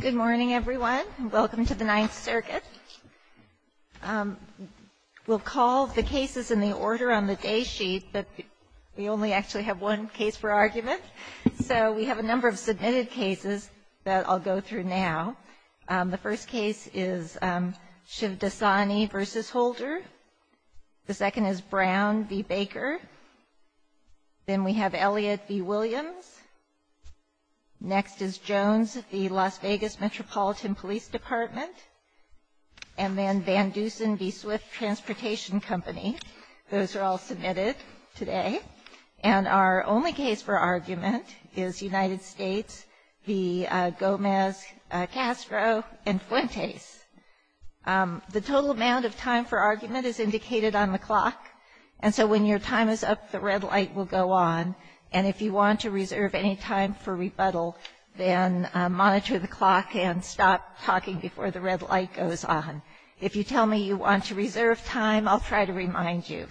Good morning, everyone. Welcome to the Ninth Circuit. We'll call the cases in the order on the day sheet, but we only actually have one case for argument. So we have a number of submitted cases that I'll go through now. The first case is Shivdasani v. Holder. The second is Brown v. Baker. Then we have Elliott v. Williams. Next is Jones v. Las Vegas Metropolitan Police Department. And then Van Dusen v. Swift Transportation Company. Those are all submitted today. And our only case for argument is United States v. Gomez, Castro, and Fuentes. The total amount of time for argument is indicated on the clock. And so when your time is up, the red light will go on. And if you want to reserve any time for rebuttal, then monitor the clock and stop talking before the red light goes on. If you tell me you want to reserve time, I'll try to remind you.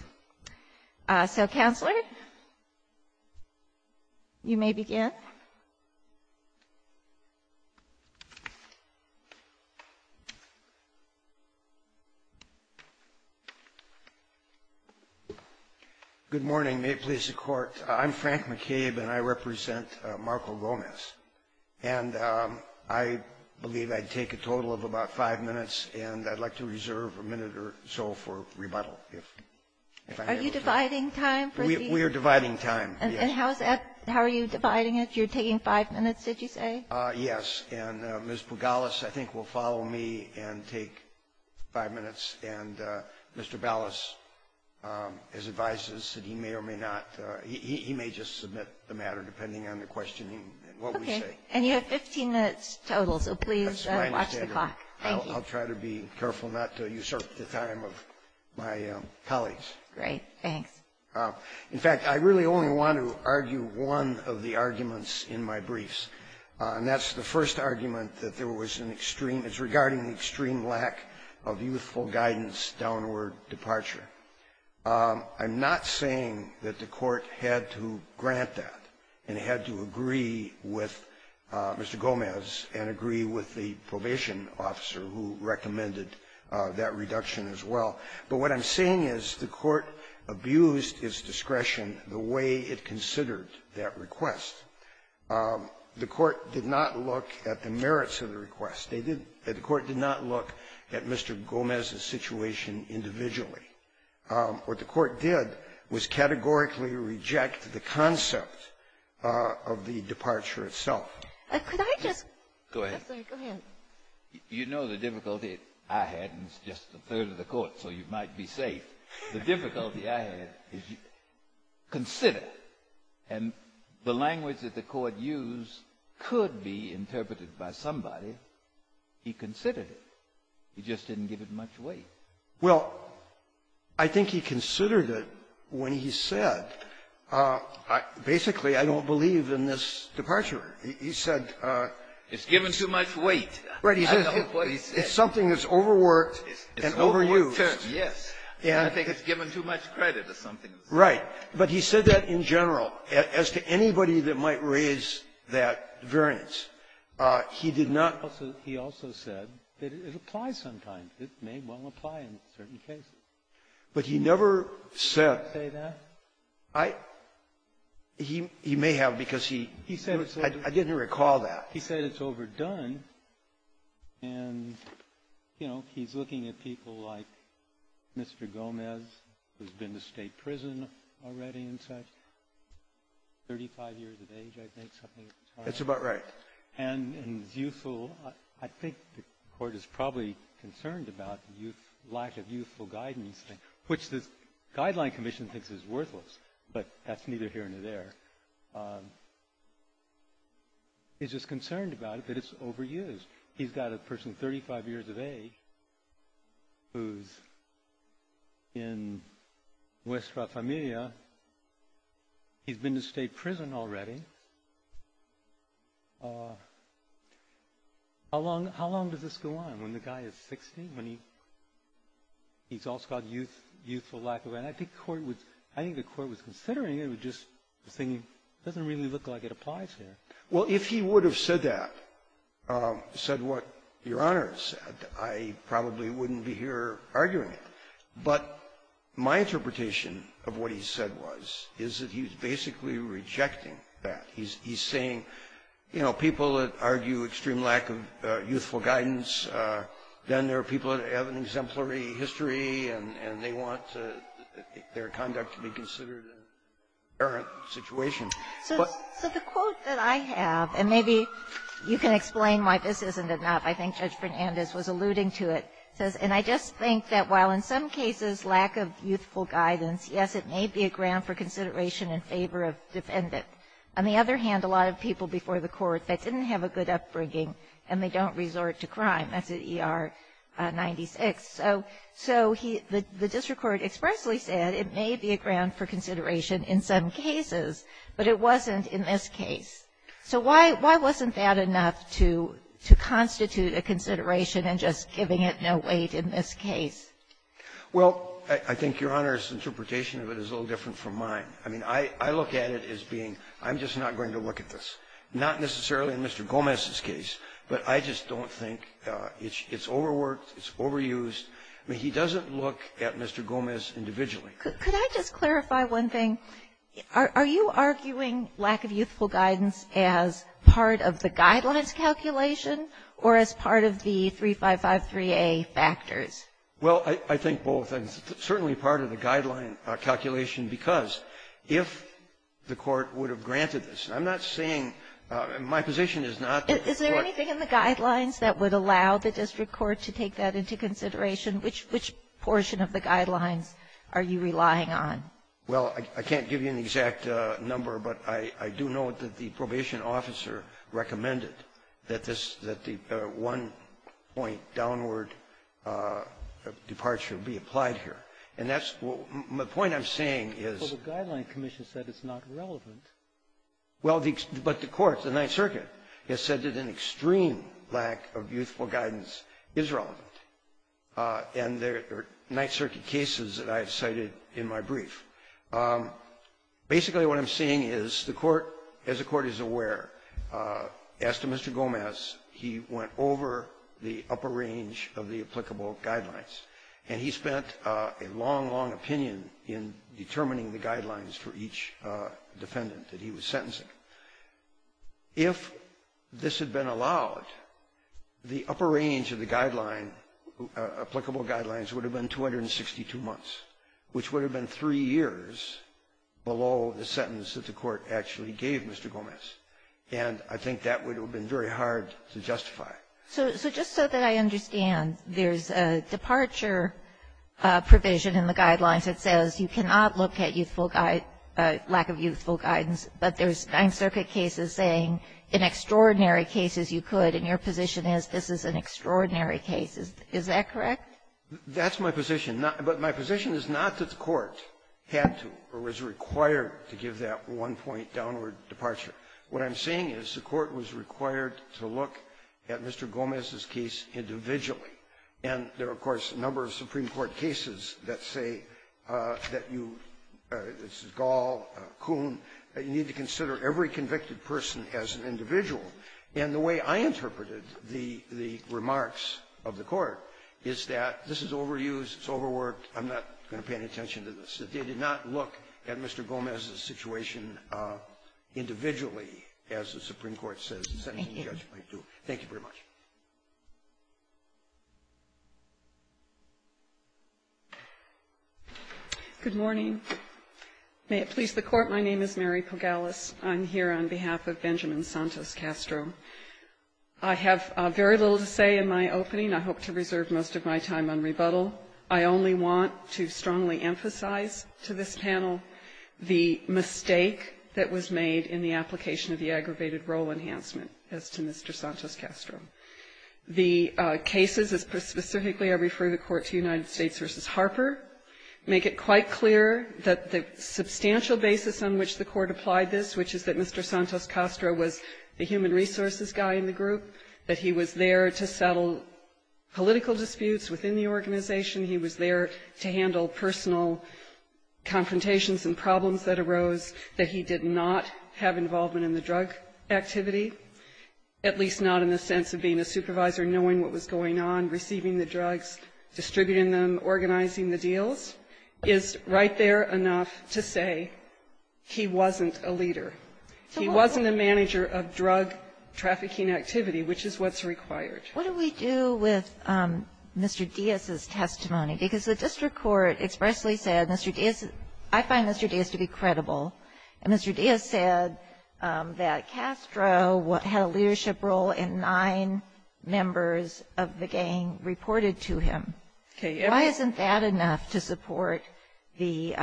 So, Counselor, you may begin. Good morning, police and court. I'm Frank McCabe, and I represent Marco Gomez. And I believe I'd take a total of about five minutes, and I'd like to reserve a minute or so for rebuttal. Are you dividing time? We are dividing time, yes. And how are you dividing it? You're taking five minutes, did you say? Yes. And Ms. Pugalis, I think, will follow me and take five minutes. And Mr. Ballas has advised us that he may or may not – he may just submit the matter, depending on the questioning and what we say. Okay. And you have 15 minutes total, so please watch the clock. That's my understanding. Thank you. I'll try to be careful not to usurp the time of my colleagues. Great. Thanks. In fact, I really only want to argue one of the arguments in my briefs. And that's the first argument that there was an extreme – it's regarding the extreme lack of youthful guidance downward departure. I'm not saying that the Court had to grant that and had to agree with Mr. Gomez and agree with the probation officer who recommended that reduction as well. But what I'm saying is the Court abused its discretion the way it considered that request. The Court did not look at the merits of the request. They did – the Court did not look at Mr. Gomez's situation individually. What the Court did was categorically reject the concept of the departure itself. Could I just – Go ahead. Go ahead. You know the difficulty I had, and it's just a third of the Court, so you might be safe. The difficulty I had is you consider, and the language that the Court used could be interpreted by somebody. He considered it. He just didn't give it much weight. Well, I think he considered it when he said, basically, I don't believe in this departure. He said – It's given too much weight. Right. It's something that's overworked and overused. It's overworked terms, yes. And I think it's given too much credit as something that's overdone. Right. But he said that in general. As to anybody that might raise that variance, he did not – He also said that it applies sometimes. It may well apply in certain cases. But he never said – Did he say that? I – he may have, because he – He said it's overdone. I didn't recall that. He said it's overdone, and, you know, he's looking at people like Mr. Gomez, who's been to State prison already and such, 35 years of age, I think, something like that. That's about right. And he's youthful. I think the Court is probably concerned about youth – lack of youthful guidance, which the Guideline Commission thinks is worthless, but that's neither here nor there. He's just concerned about it, that it's overused. He's got a person 35 years of age who's in West Rafaelia. He's been to State prison already. How long does this go on? When the guy is 60? When he – he's also got youthful lack of – Well, if he would have said that, said what Your Honor said, I probably wouldn't be here arguing it. But my interpretation of what he said was, is that he's basically rejecting that. He's – he's saying, you know, people that argue extreme lack of youthful guidance, then there are people that have an exemplary history, and they want their conduct to be considered in the current situation. So the quote that I have, and maybe you can explain why this isn't enough. I think Judge Fernandez was alluding to it. It says, and I just think that while in some cases lack of youthful guidance, yes, it may be a ground for consideration in favor of defendant. On the other hand, a lot of people before the Court that didn't have a good upbringing and they don't resort to crime, that's at ER 96. So – so he – the district court expressly said it may be a ground for consideration in some cases, but it wasn't in this case. So why – why wasn't that enough to – to constitute a consideration and just giving it no weight in this case? Well, I think Your Honor's interpretation of it is a little different from mine. I mean, I – I look at it as being, I'm just not going to look at this. Not necessarily in Mr. Gomez's case, but I just don't think it's overworked, it's overused. I mean, he doesn't look at Mr. Gomez individually. Could I just clarify one thing? Are you arguing lack of youthful guidance as part of the Guidelines calculation or as part of the 3553A factors? Well, I think both. It's certainly part of the Guidelines calculation because if the Court would have Is there anything in the Guidelines that would allow the district court to take that into consideration? Which – which portion of the Guidelines are you relying on? Well, I can't give you an exact number, but I do know that the probation officer recommended that this – that the one-point downward departure be applied here. And that's – the point I'm saying is – Well, the Guidelines commission said it's not relevant. Well, the – but the Court, the Ninth Circuit, has said that an extreme lack of youthful guidance is relevant. And there are Ninth Circuit cases that I have cited in my brief. Basically, what I'm saying is the Court, as the Court is aware, asked Mr. Gomez, he went over the upper range of the applicable Guidelines, and he spent a long, long opinion in determining the Guidelines for each defendant that he was sentencing. If this had been allowed, the upper range of the Guideline, applicable Guidelines, would have been 262 months, which would have been three years below the sentence that the Court actually gave Mr. Gomez. So just so that I understand, there's a departure provision in the Guidelines that says you cannot look at youthful – lack of youthful guidance, but there's Ninth Circuit cases saying in extraordinary cases you could, and your position is this is an extraordinary case. Is that correct? That's my position. But my position is not that the Court had to or was required to give that one-point downward departure. What I'm saying is the Court was required to look at Mr. Gomez's case individually. And there are, of course, a number of Supreme Court cases that say that you – this is Gall, Kuhn – you need to consider every convicted person as an individual. And the way I interpreted the remarks of the Court is that this is overused, it's overworked, I'm not going to pay any attention to this. That they did not look at Mr. Gomez's situation individually, as the Supreme Court says the sentencing judgment would do. Thank you very much. Pagalus, I'm here on behalf of Benjamin Santos Castro. I have very little to say in my opening. I hope to reserve most of my time on rebuttal. I only want to strongly emphasize to this panel the mistake that was made in the application of the aggravated role enhancement as to Mr. Santos Castro. The cases, as specifically I refer the Court to United States v. Harper, make it quite clear that the substantial basis on which the Court applied this, which is that Mr. Santos Castro was the human resources guy in the group, that he was there to settle political disputes within the organization, he was there to handle personal confrontations and problems that arose, that he did not have involvement in the drug activity, at least not in the sense of being a supervisor, knowing what was going on, receiving the drugs, distributing them, organizing the deals, is right there enough to say he wasn't a leader. He wasn't a manager of drug trafficking activity, which is what's required. What do we do with Mr. Diaz's testimony? Because the district court expressly said, Mr. Diaz, I find Mr. Diaz to be credible. And Mr. Diaz said that Castro had a leadership role and nine members of the gang reported to him. Why isn't that enough to support the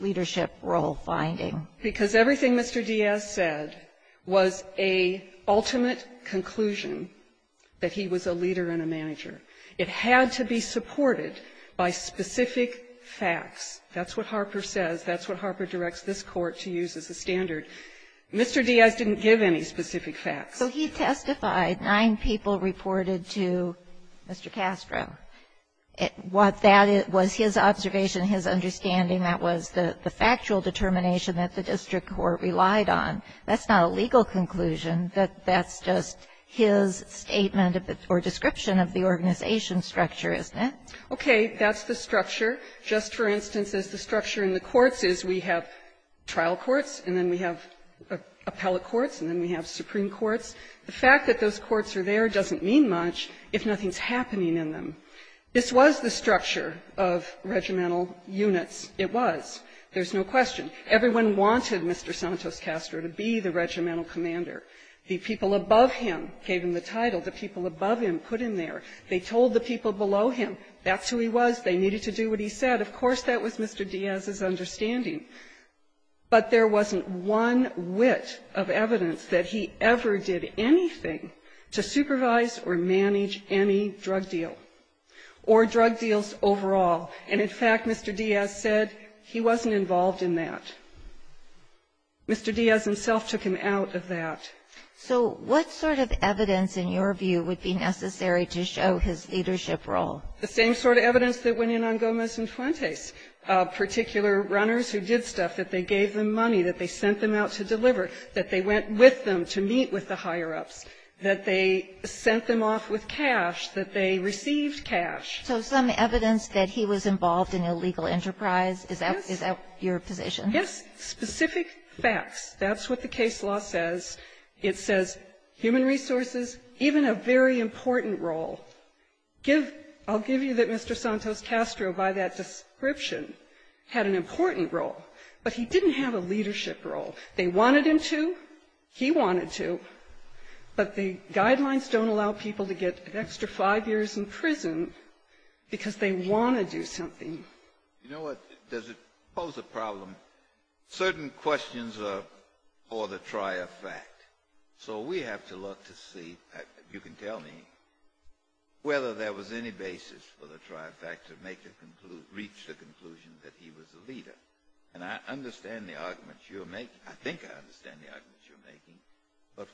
leadership role finding? Because everything Mr. Diaz said was a ultimate conclusion that he was a leader and a manager. It had to be supported by specific facts. That's what Harper says. That's what Harper directs this Court to use as a standard. Mr. Diaz didn't give any specific facts. So he testified. Nine people reported to Mr. Castro. Was his observation, his understanding, that was the factual determination that the district court relied on. That's not a legal conclusion. That's just his statement or description of the organization structure, isn't it? Okay. That's the structure. Just for instance, as the structure in the courts is, we have trial courts, and then we have appellate courts, and then we have supreme courts. The fact that those courts are there doesn't mean much if nothing's happening in them. This was the structure of regimental units. It was. There's no question. Everyone wanted Mr. Santos Castro to be the regimental commander. The people above him gave him the title. The people above him put him there. They told the people below him. That's who he was. They needed to do what he said. Of course, that was Mr. Diaz's understanding. But there wasn't one whit of evidence that he ever did anything to supervise or manage any drug deal or drug deals overall. And, in fact, Mr. Diaz said he wasn't involved in that. Mr. Diaz himself took him out of that. So what sort of evidence, in your view, would be necessary to show his leadership role? The same sort of evidence that went in on Gomez and Fuentes, particular runners who did stuff, that they gave them money, that they sent them out to deliver, that they went with them to meet with the higher-ups, that they sent them off with cash, that they received cash. So some evidence that he was involved in illegal enterprise, is that your position? Yes. Specific facts. That's what the case law says. It says human resources, even a very important role. I'll give you that Mr. Santos Castro, by that description, had an important role. But he didn't have a leadership role. They wanted him to. He wanted to. But the guidelines don't allow people to get an extra five years in prison because they want to do something. You know what? Does it pose a problem? Certain questions are for the trier fact. So we have to look to see, you can tell me, whether there was any basis for the trier fact to make a conclusion, reach the conclusion that he was a leader. And I understand the arguments you're making. I think I understand the arguments you're making. But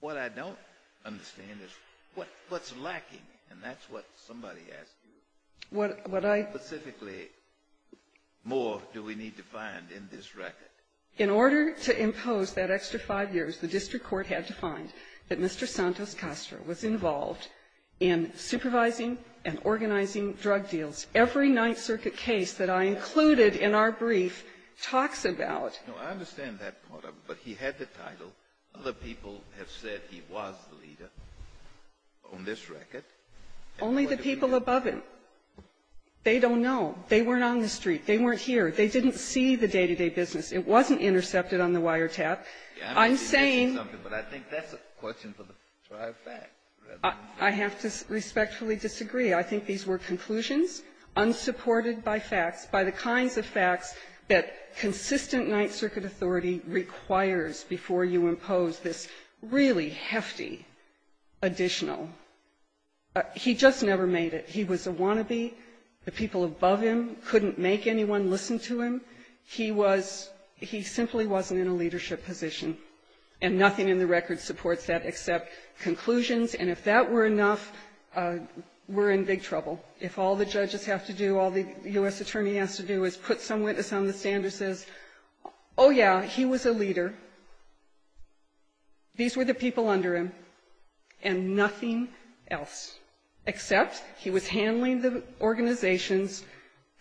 what I don't understand is what's lacking? And that's what somebody asked you. What I — Specifically, more do we need to find in this record? In order to impose that extra five years, the district court had to find that Mr. Santos Castro was involved in supervising and organizing drug deals. Every Ninth Circuit case that I included in our brief talks about — No, I understand that part of it. But he had the title. Other people have said he was the leader on this record. Only the people above him. They don't know. They weren't on the street. They weren't here. They didn't see the day-to-day business. It wasn't intercepted on the wiretap. I'm saying — But I think that's a question for the trier fact. I have to respectfully disagree. I think these were conclusions unsupported by facts, by the kinds of facts that consistent Ninth Circuit authority requires before you impose this really hefty additional. He just never made it. He was a wannabe. The people above him couldn't make anyone listen to him. He was — he simply wasn't in a leadership position. And nothing in the record supports that except conclusions. And if that were enough, we're in big trouble. If all the judges have to do, all the U.S. Attorney has to do is put some witness on the stand who says, oh, yeah, he was a leader. These were the people under him. And nothing else except he was handling the organization's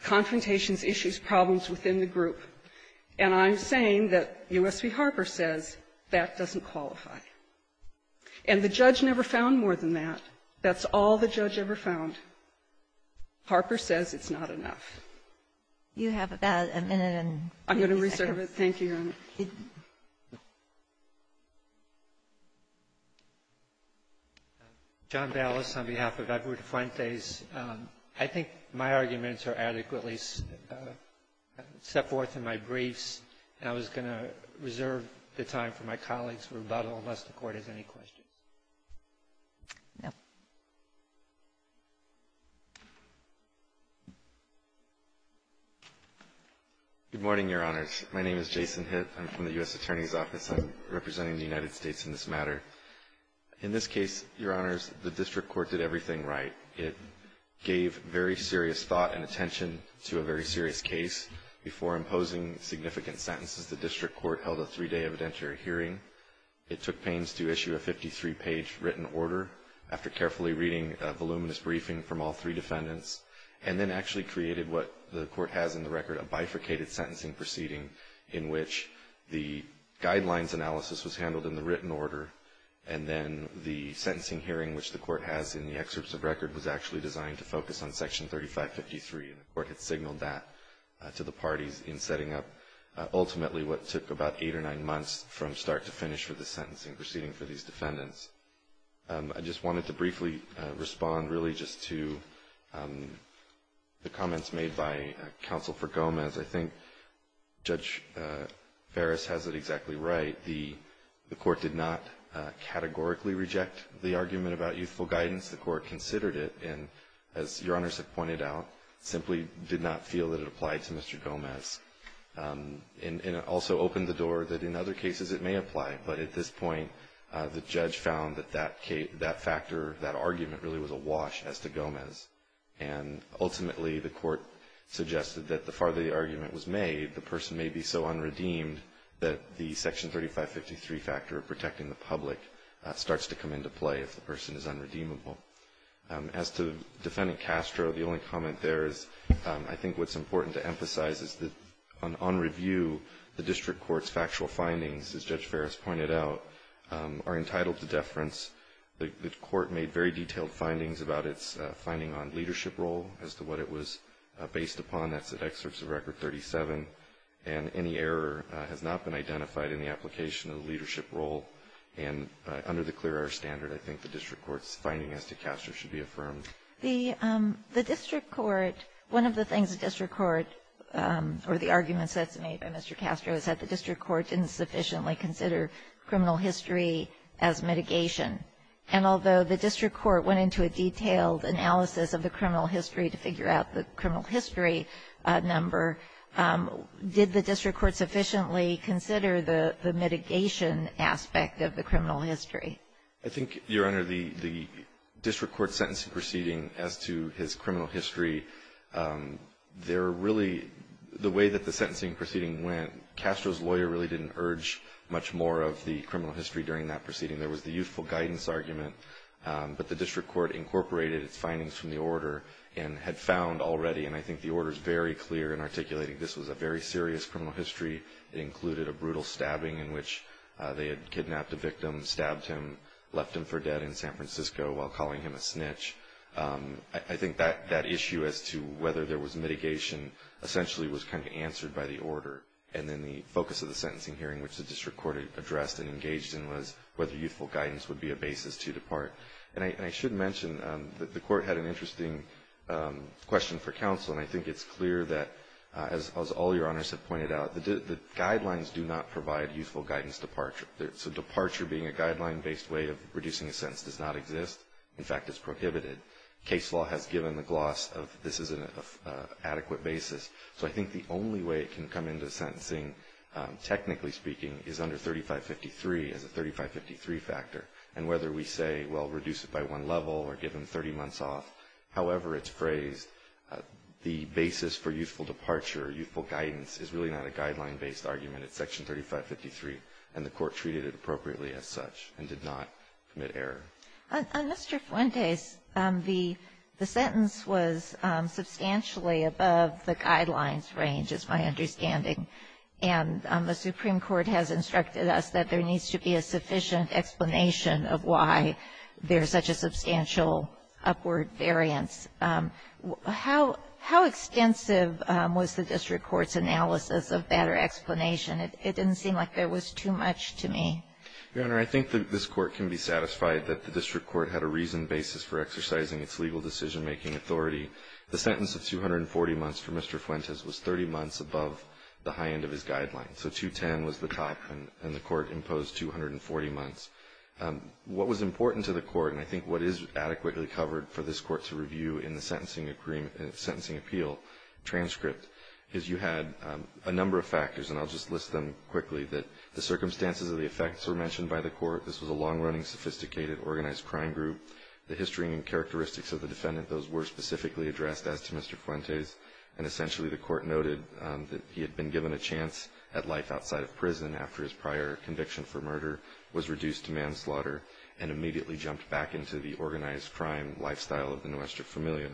confrontations, issues, problems within the group. And I'm saying that U.S. v. Harper says that doesn't qualify. And the judge never found more than that. That's all the judge ever found. Harper says it's not enough. Ginsburg. You have about a minute and a few seconds. I'm going to reserve it. Thank you, Your Honor. John Ballas on behalf of Edward Fuentes. I think my arguments are adequately set forth in my briefs, and I was going to reserve the time for my colleagues' rebuttal unless the Court has any questions. No. Good morning, Your Honors. My name is Jason Hitt. I'm from the U.S. Attorney's Office. I'm representing the United States in this matter. In this case, Your Honors, the district court did everything right. It gave very serious thought and attention to a very serious case. Before imposing significant sentences, the district court held a three-day evidentiary hearing. It took pains to issue a 53-page written order after carefully reading a voluminous briefing from all three defendants, and then actually created what the Court has in the record, a bifurcated sentencing proceeding in which the guidelines analysis was handled in the written order, and then the sentencing hearing, which the Court has in the excerpts of record, was actually designed to focus on Section 3553. The Court had signaled that to the parties in setting up, ultimately, what took about eight or nine months from start to finish for the sentencing proceeding for these defendants. I just wanted to briefly respond, really, just to the comments made by Counsel for Gomez. I think Judge Ferris has it exactly right. The Court did not categorically reject the argument about youthful guidance. The Court considered it and, as Your Honors have pointed out, simply did not feel that it applied to Mr. Gomez. And it also opened the door that in other cases it may apply. But at this point, the judge found that that factor, that argument, really was a wash as to Gomez. And ultimately, the Court suggested that the farther the argument was made, the person may be so unredeemed that the Section 3553 factor of protecting the public starts to come into play if the person is unredeemable. As to Defendant Castro, the only comment there is I think what's important to emphasize is that on review, the District Court's factual findings, as Judge Ferris pointed out, are entitled to deference. The Court made very detailed findings about its finding on leadership role as to what it was based upon. That's at Excerpts of Record 37. And any error has not been identified in the application of the leadership role. And under the clear error standard, I think the District Court's finding as to Castro should be affirmed. The District Court, one of the things the District Court or the arguments that's made by Mr. Castro is that the District Court didn't sufficiently consider criminal history as mitigation. And although the District Court went into a detailed analysis of the criminal history to figure out the criminal history number, did the District Court sufficiently consider the mitigation aspect of the criminal history? I think, Your Honor, the District Court's sentencing proceeding as to his criminal history, there really, the way that the sentencing proceeding went, Castro's lawyer really didn't urge much more of the criminal history during that proceeding. There was the youthful guidance argument. But the District Court incorporated its findings from the order and had found already, and I think the order is very clear in articulating this was a very serious criminal history. It included a brutal stabbing in which they had kidnapped a victim, stabbed him, left him for dead in San Francisco while calling him a snitch. I think that issue as to whether there was mitigation essentially was kind of answered by the order. And then the focus of the sentencing hearing, which the District Court addressed and engaged in, was whether youthful guidance would be a basis to depart. And I should mention that the Court had an interesting question for counsel, and I think it's clear that, as all Your Honors have pointed out, the guidelines do not provide youthful guidance departure. So departure being a guideline-based way of reducing a sentence does not exist. In fact, it's prohibited. Case law has given the gloss of this is an adequate basis. So I think the only way it can come into sentencing, technically speaking, is under 3553 as a 3553 factor. And whether we say, well, reduce it by one level or give him 30 months off, however it's phrased, the basis for youthful departure, youthful guidance, is really not a guideline-based argument. It's Section 3553. And the Court treated it appropriately as such and did not commit error. And, Mr. Fuentes, the sentence was substantially above the guidelines range, is my understanding. And the Supreme Court has instructed us that there needs to be a sufficient explanation of why there's such a substantial upward variance. How extensive was the district court's analysis of better explanation? It didn't seem like there was too much to me. Your Honor, I think this Court can be satisfied that the district court had a reasoned basis for exercising its legal decision-making authority. The sentence of 240 months for Mr. Fuentes was 30 months above the high end of his guidelines. So 210 was the top, and the Court imposed 240 months. What was important to the Court, and I think what is adequately covered for this Court to review in the sentencing appeal transcript, is you had a number of factors, and I'll just list them quickly, that the circumstances of the effects were mentioned by the Court. This was a long-running, sophisticated, organized crime group. The history and characteristics of the defendant, those were specifically addressed as to Mr. Fuentes. And essentially the Court noted that he had been given a chance at life outside of prison after his prior conviction for murder, was reduced to manslaughter, and immediately jumped back into the organized crime lifestyle of the Nuestra Familia.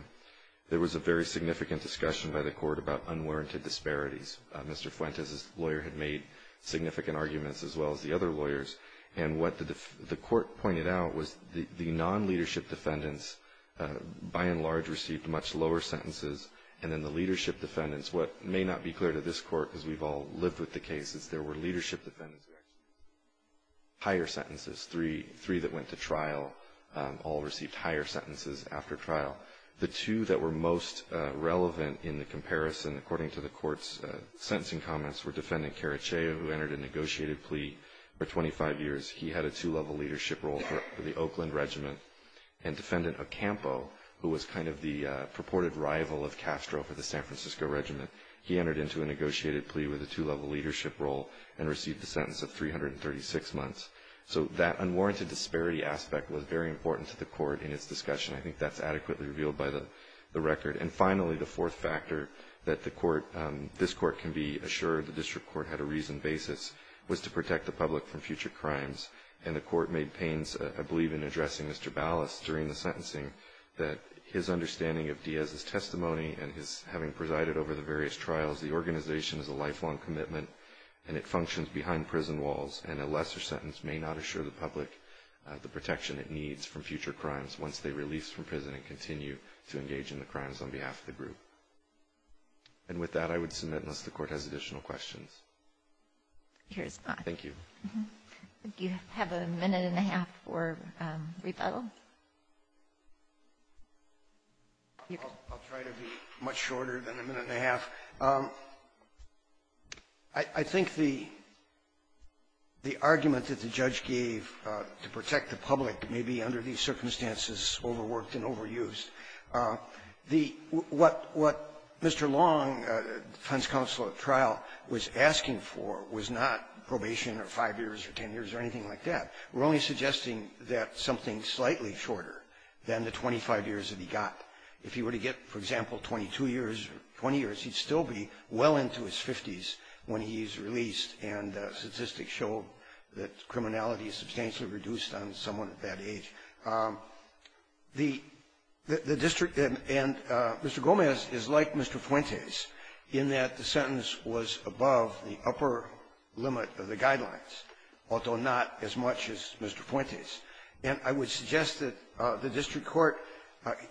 There was a very significant discussion by the Court about unwarranted disparities. Mr. Fuentes' lawyer had made significant arguments, as well as the other lawyers. And what the Court pointed out was the non-leadership defendants, by and large, received much lower sentences, and then the leadership defendants, what may not be clear to this Court, because we've all lived with the cases, there were leadership defendants with higher sentences, three that went to trial, all received higher sentences after trial. The two that were most relevant in the comparison, according to the Court's sentencing comments, were Defendant Caraceo, who entered a negotiated plea for 25 years. He had a two-level leadership role for the Oakland Regiment, and Defendant Ocampo, who was kind of the purported rival of Castro for the San Francisco Regiment, he entered into a negotiated plea with a two-level leadership role and received a sentence of 336 months. So that unwarranted disparity aspect was very important to the Court in its discussion. I think that's adequately revealed by the record. And finally, the fourth factor that this Court can be assured the District Court had a reasoned basis, was to protect the public from future crimes. And the Court made pains, I believe, in addressing Mr. Ballas during the sentencing, that his understanding of Diaz's testimony and his having presided over the various trials, the organization is a lifelong commitment and it functions behind prison walls, and a lesser sentence may not assure the public the protection it needs from future crimes once they're released from prison and continue to engage in the crimes on behalf of the group. And with that, I would submit, unless the Court has additional questions. Ginsburg. Thank you. Do you have a minute and a half for rebuttal? I'll try to be much shorter than a minute and a half. I think the argument that the judge gave to protect the public may be under these circumstances overworked and overused. What Mr. Long, defense counsel at trial, was asking for was not probation or five years or ten years or anything like that. We're only suggesting that something slightly shorter than the 25 years that he got. If he were to get, for example, 22 years or 20 years, he'd still be well into his 50s when he's released, and statistics show that criminality is substantially reduced on someone at that age. The district and Mr. Gomez is like Mr. Fuentes in that the sentence was above the upper limit of the guidelines, although not as much as Mr. Fuentes. And I would suggest that the district court,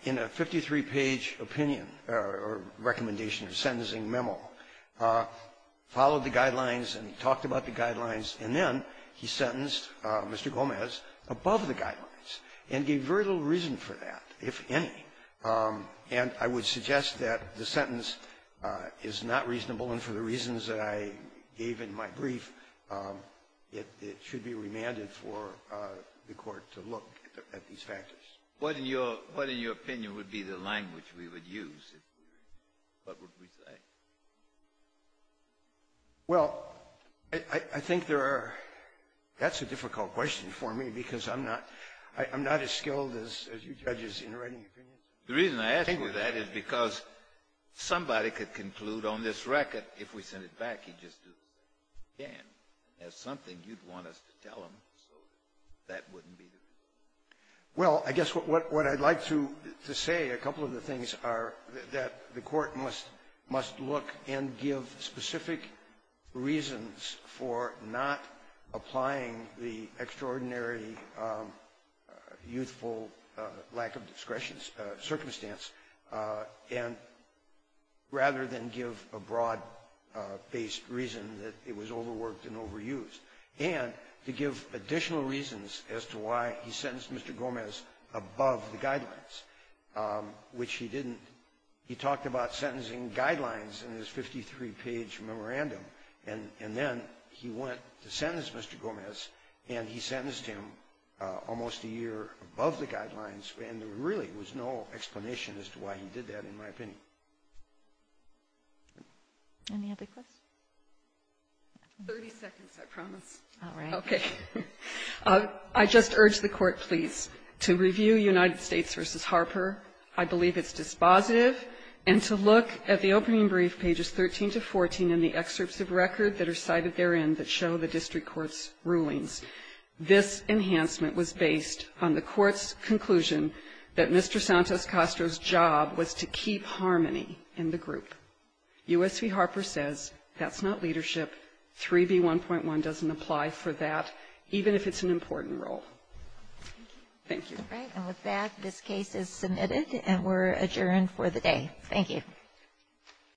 in a 53-page opinion or recommendation or sentencing memo, followed the guidelines and talked about the guidelines, and then he sentenced Mr. Gomez above the guidelines and gave very little reason for that, if any. And I would suggest that the sentence is not reasonable, and for the reasons that I gave in my brief, it should be remanded for the court to look at these What, in your opinion, would be the language we would use? What would we say? Well, I think there are — that's a difficult question for me, because I'm not — I'm not as skilled as you judges in writing opinions. The reason I ask you that is because somebody could conclude on this record, if we sent it back, he'd just do it again. There's something you'd want us to tell him, so that Well, I guess what I'd like to say, a couple of the things are that the court must look and give specific reasons for not applying the extraordinary youthful lack of discretion circumstance, and rather than give a broad-based reason that it was overworked and overused, and to give additional reasons as to why he sentenced Mr. Gomez above the guidelines, which he didn't. He talked about sentencing guidelines in his 53-page memorandum, and then he went to sentence Mr. Gomez, and he sentenced him almost a year above the guidelines, and there really was no explanation as to why he did that, in my opinion. Any other questions? 30 seconds, I promise. All right. Okay. I just urge the Court, please, to review United States v. Harper. I believe it's dispositive, and to look at the opening brief, pages 13 to 14, and the excerpts of record that are cited therein that show the district court's rulings. This enhancement was based on the court's conclusion that Mr. Santos-Castro's job was to keep harmony in the group. U.S. v. Harper says that's not leadership. 3b.1.1 doesn't apply for that, even if it's an important role. Thank you. All right. And with that, this case is submitted, and we're adjourned for the day. Thank you.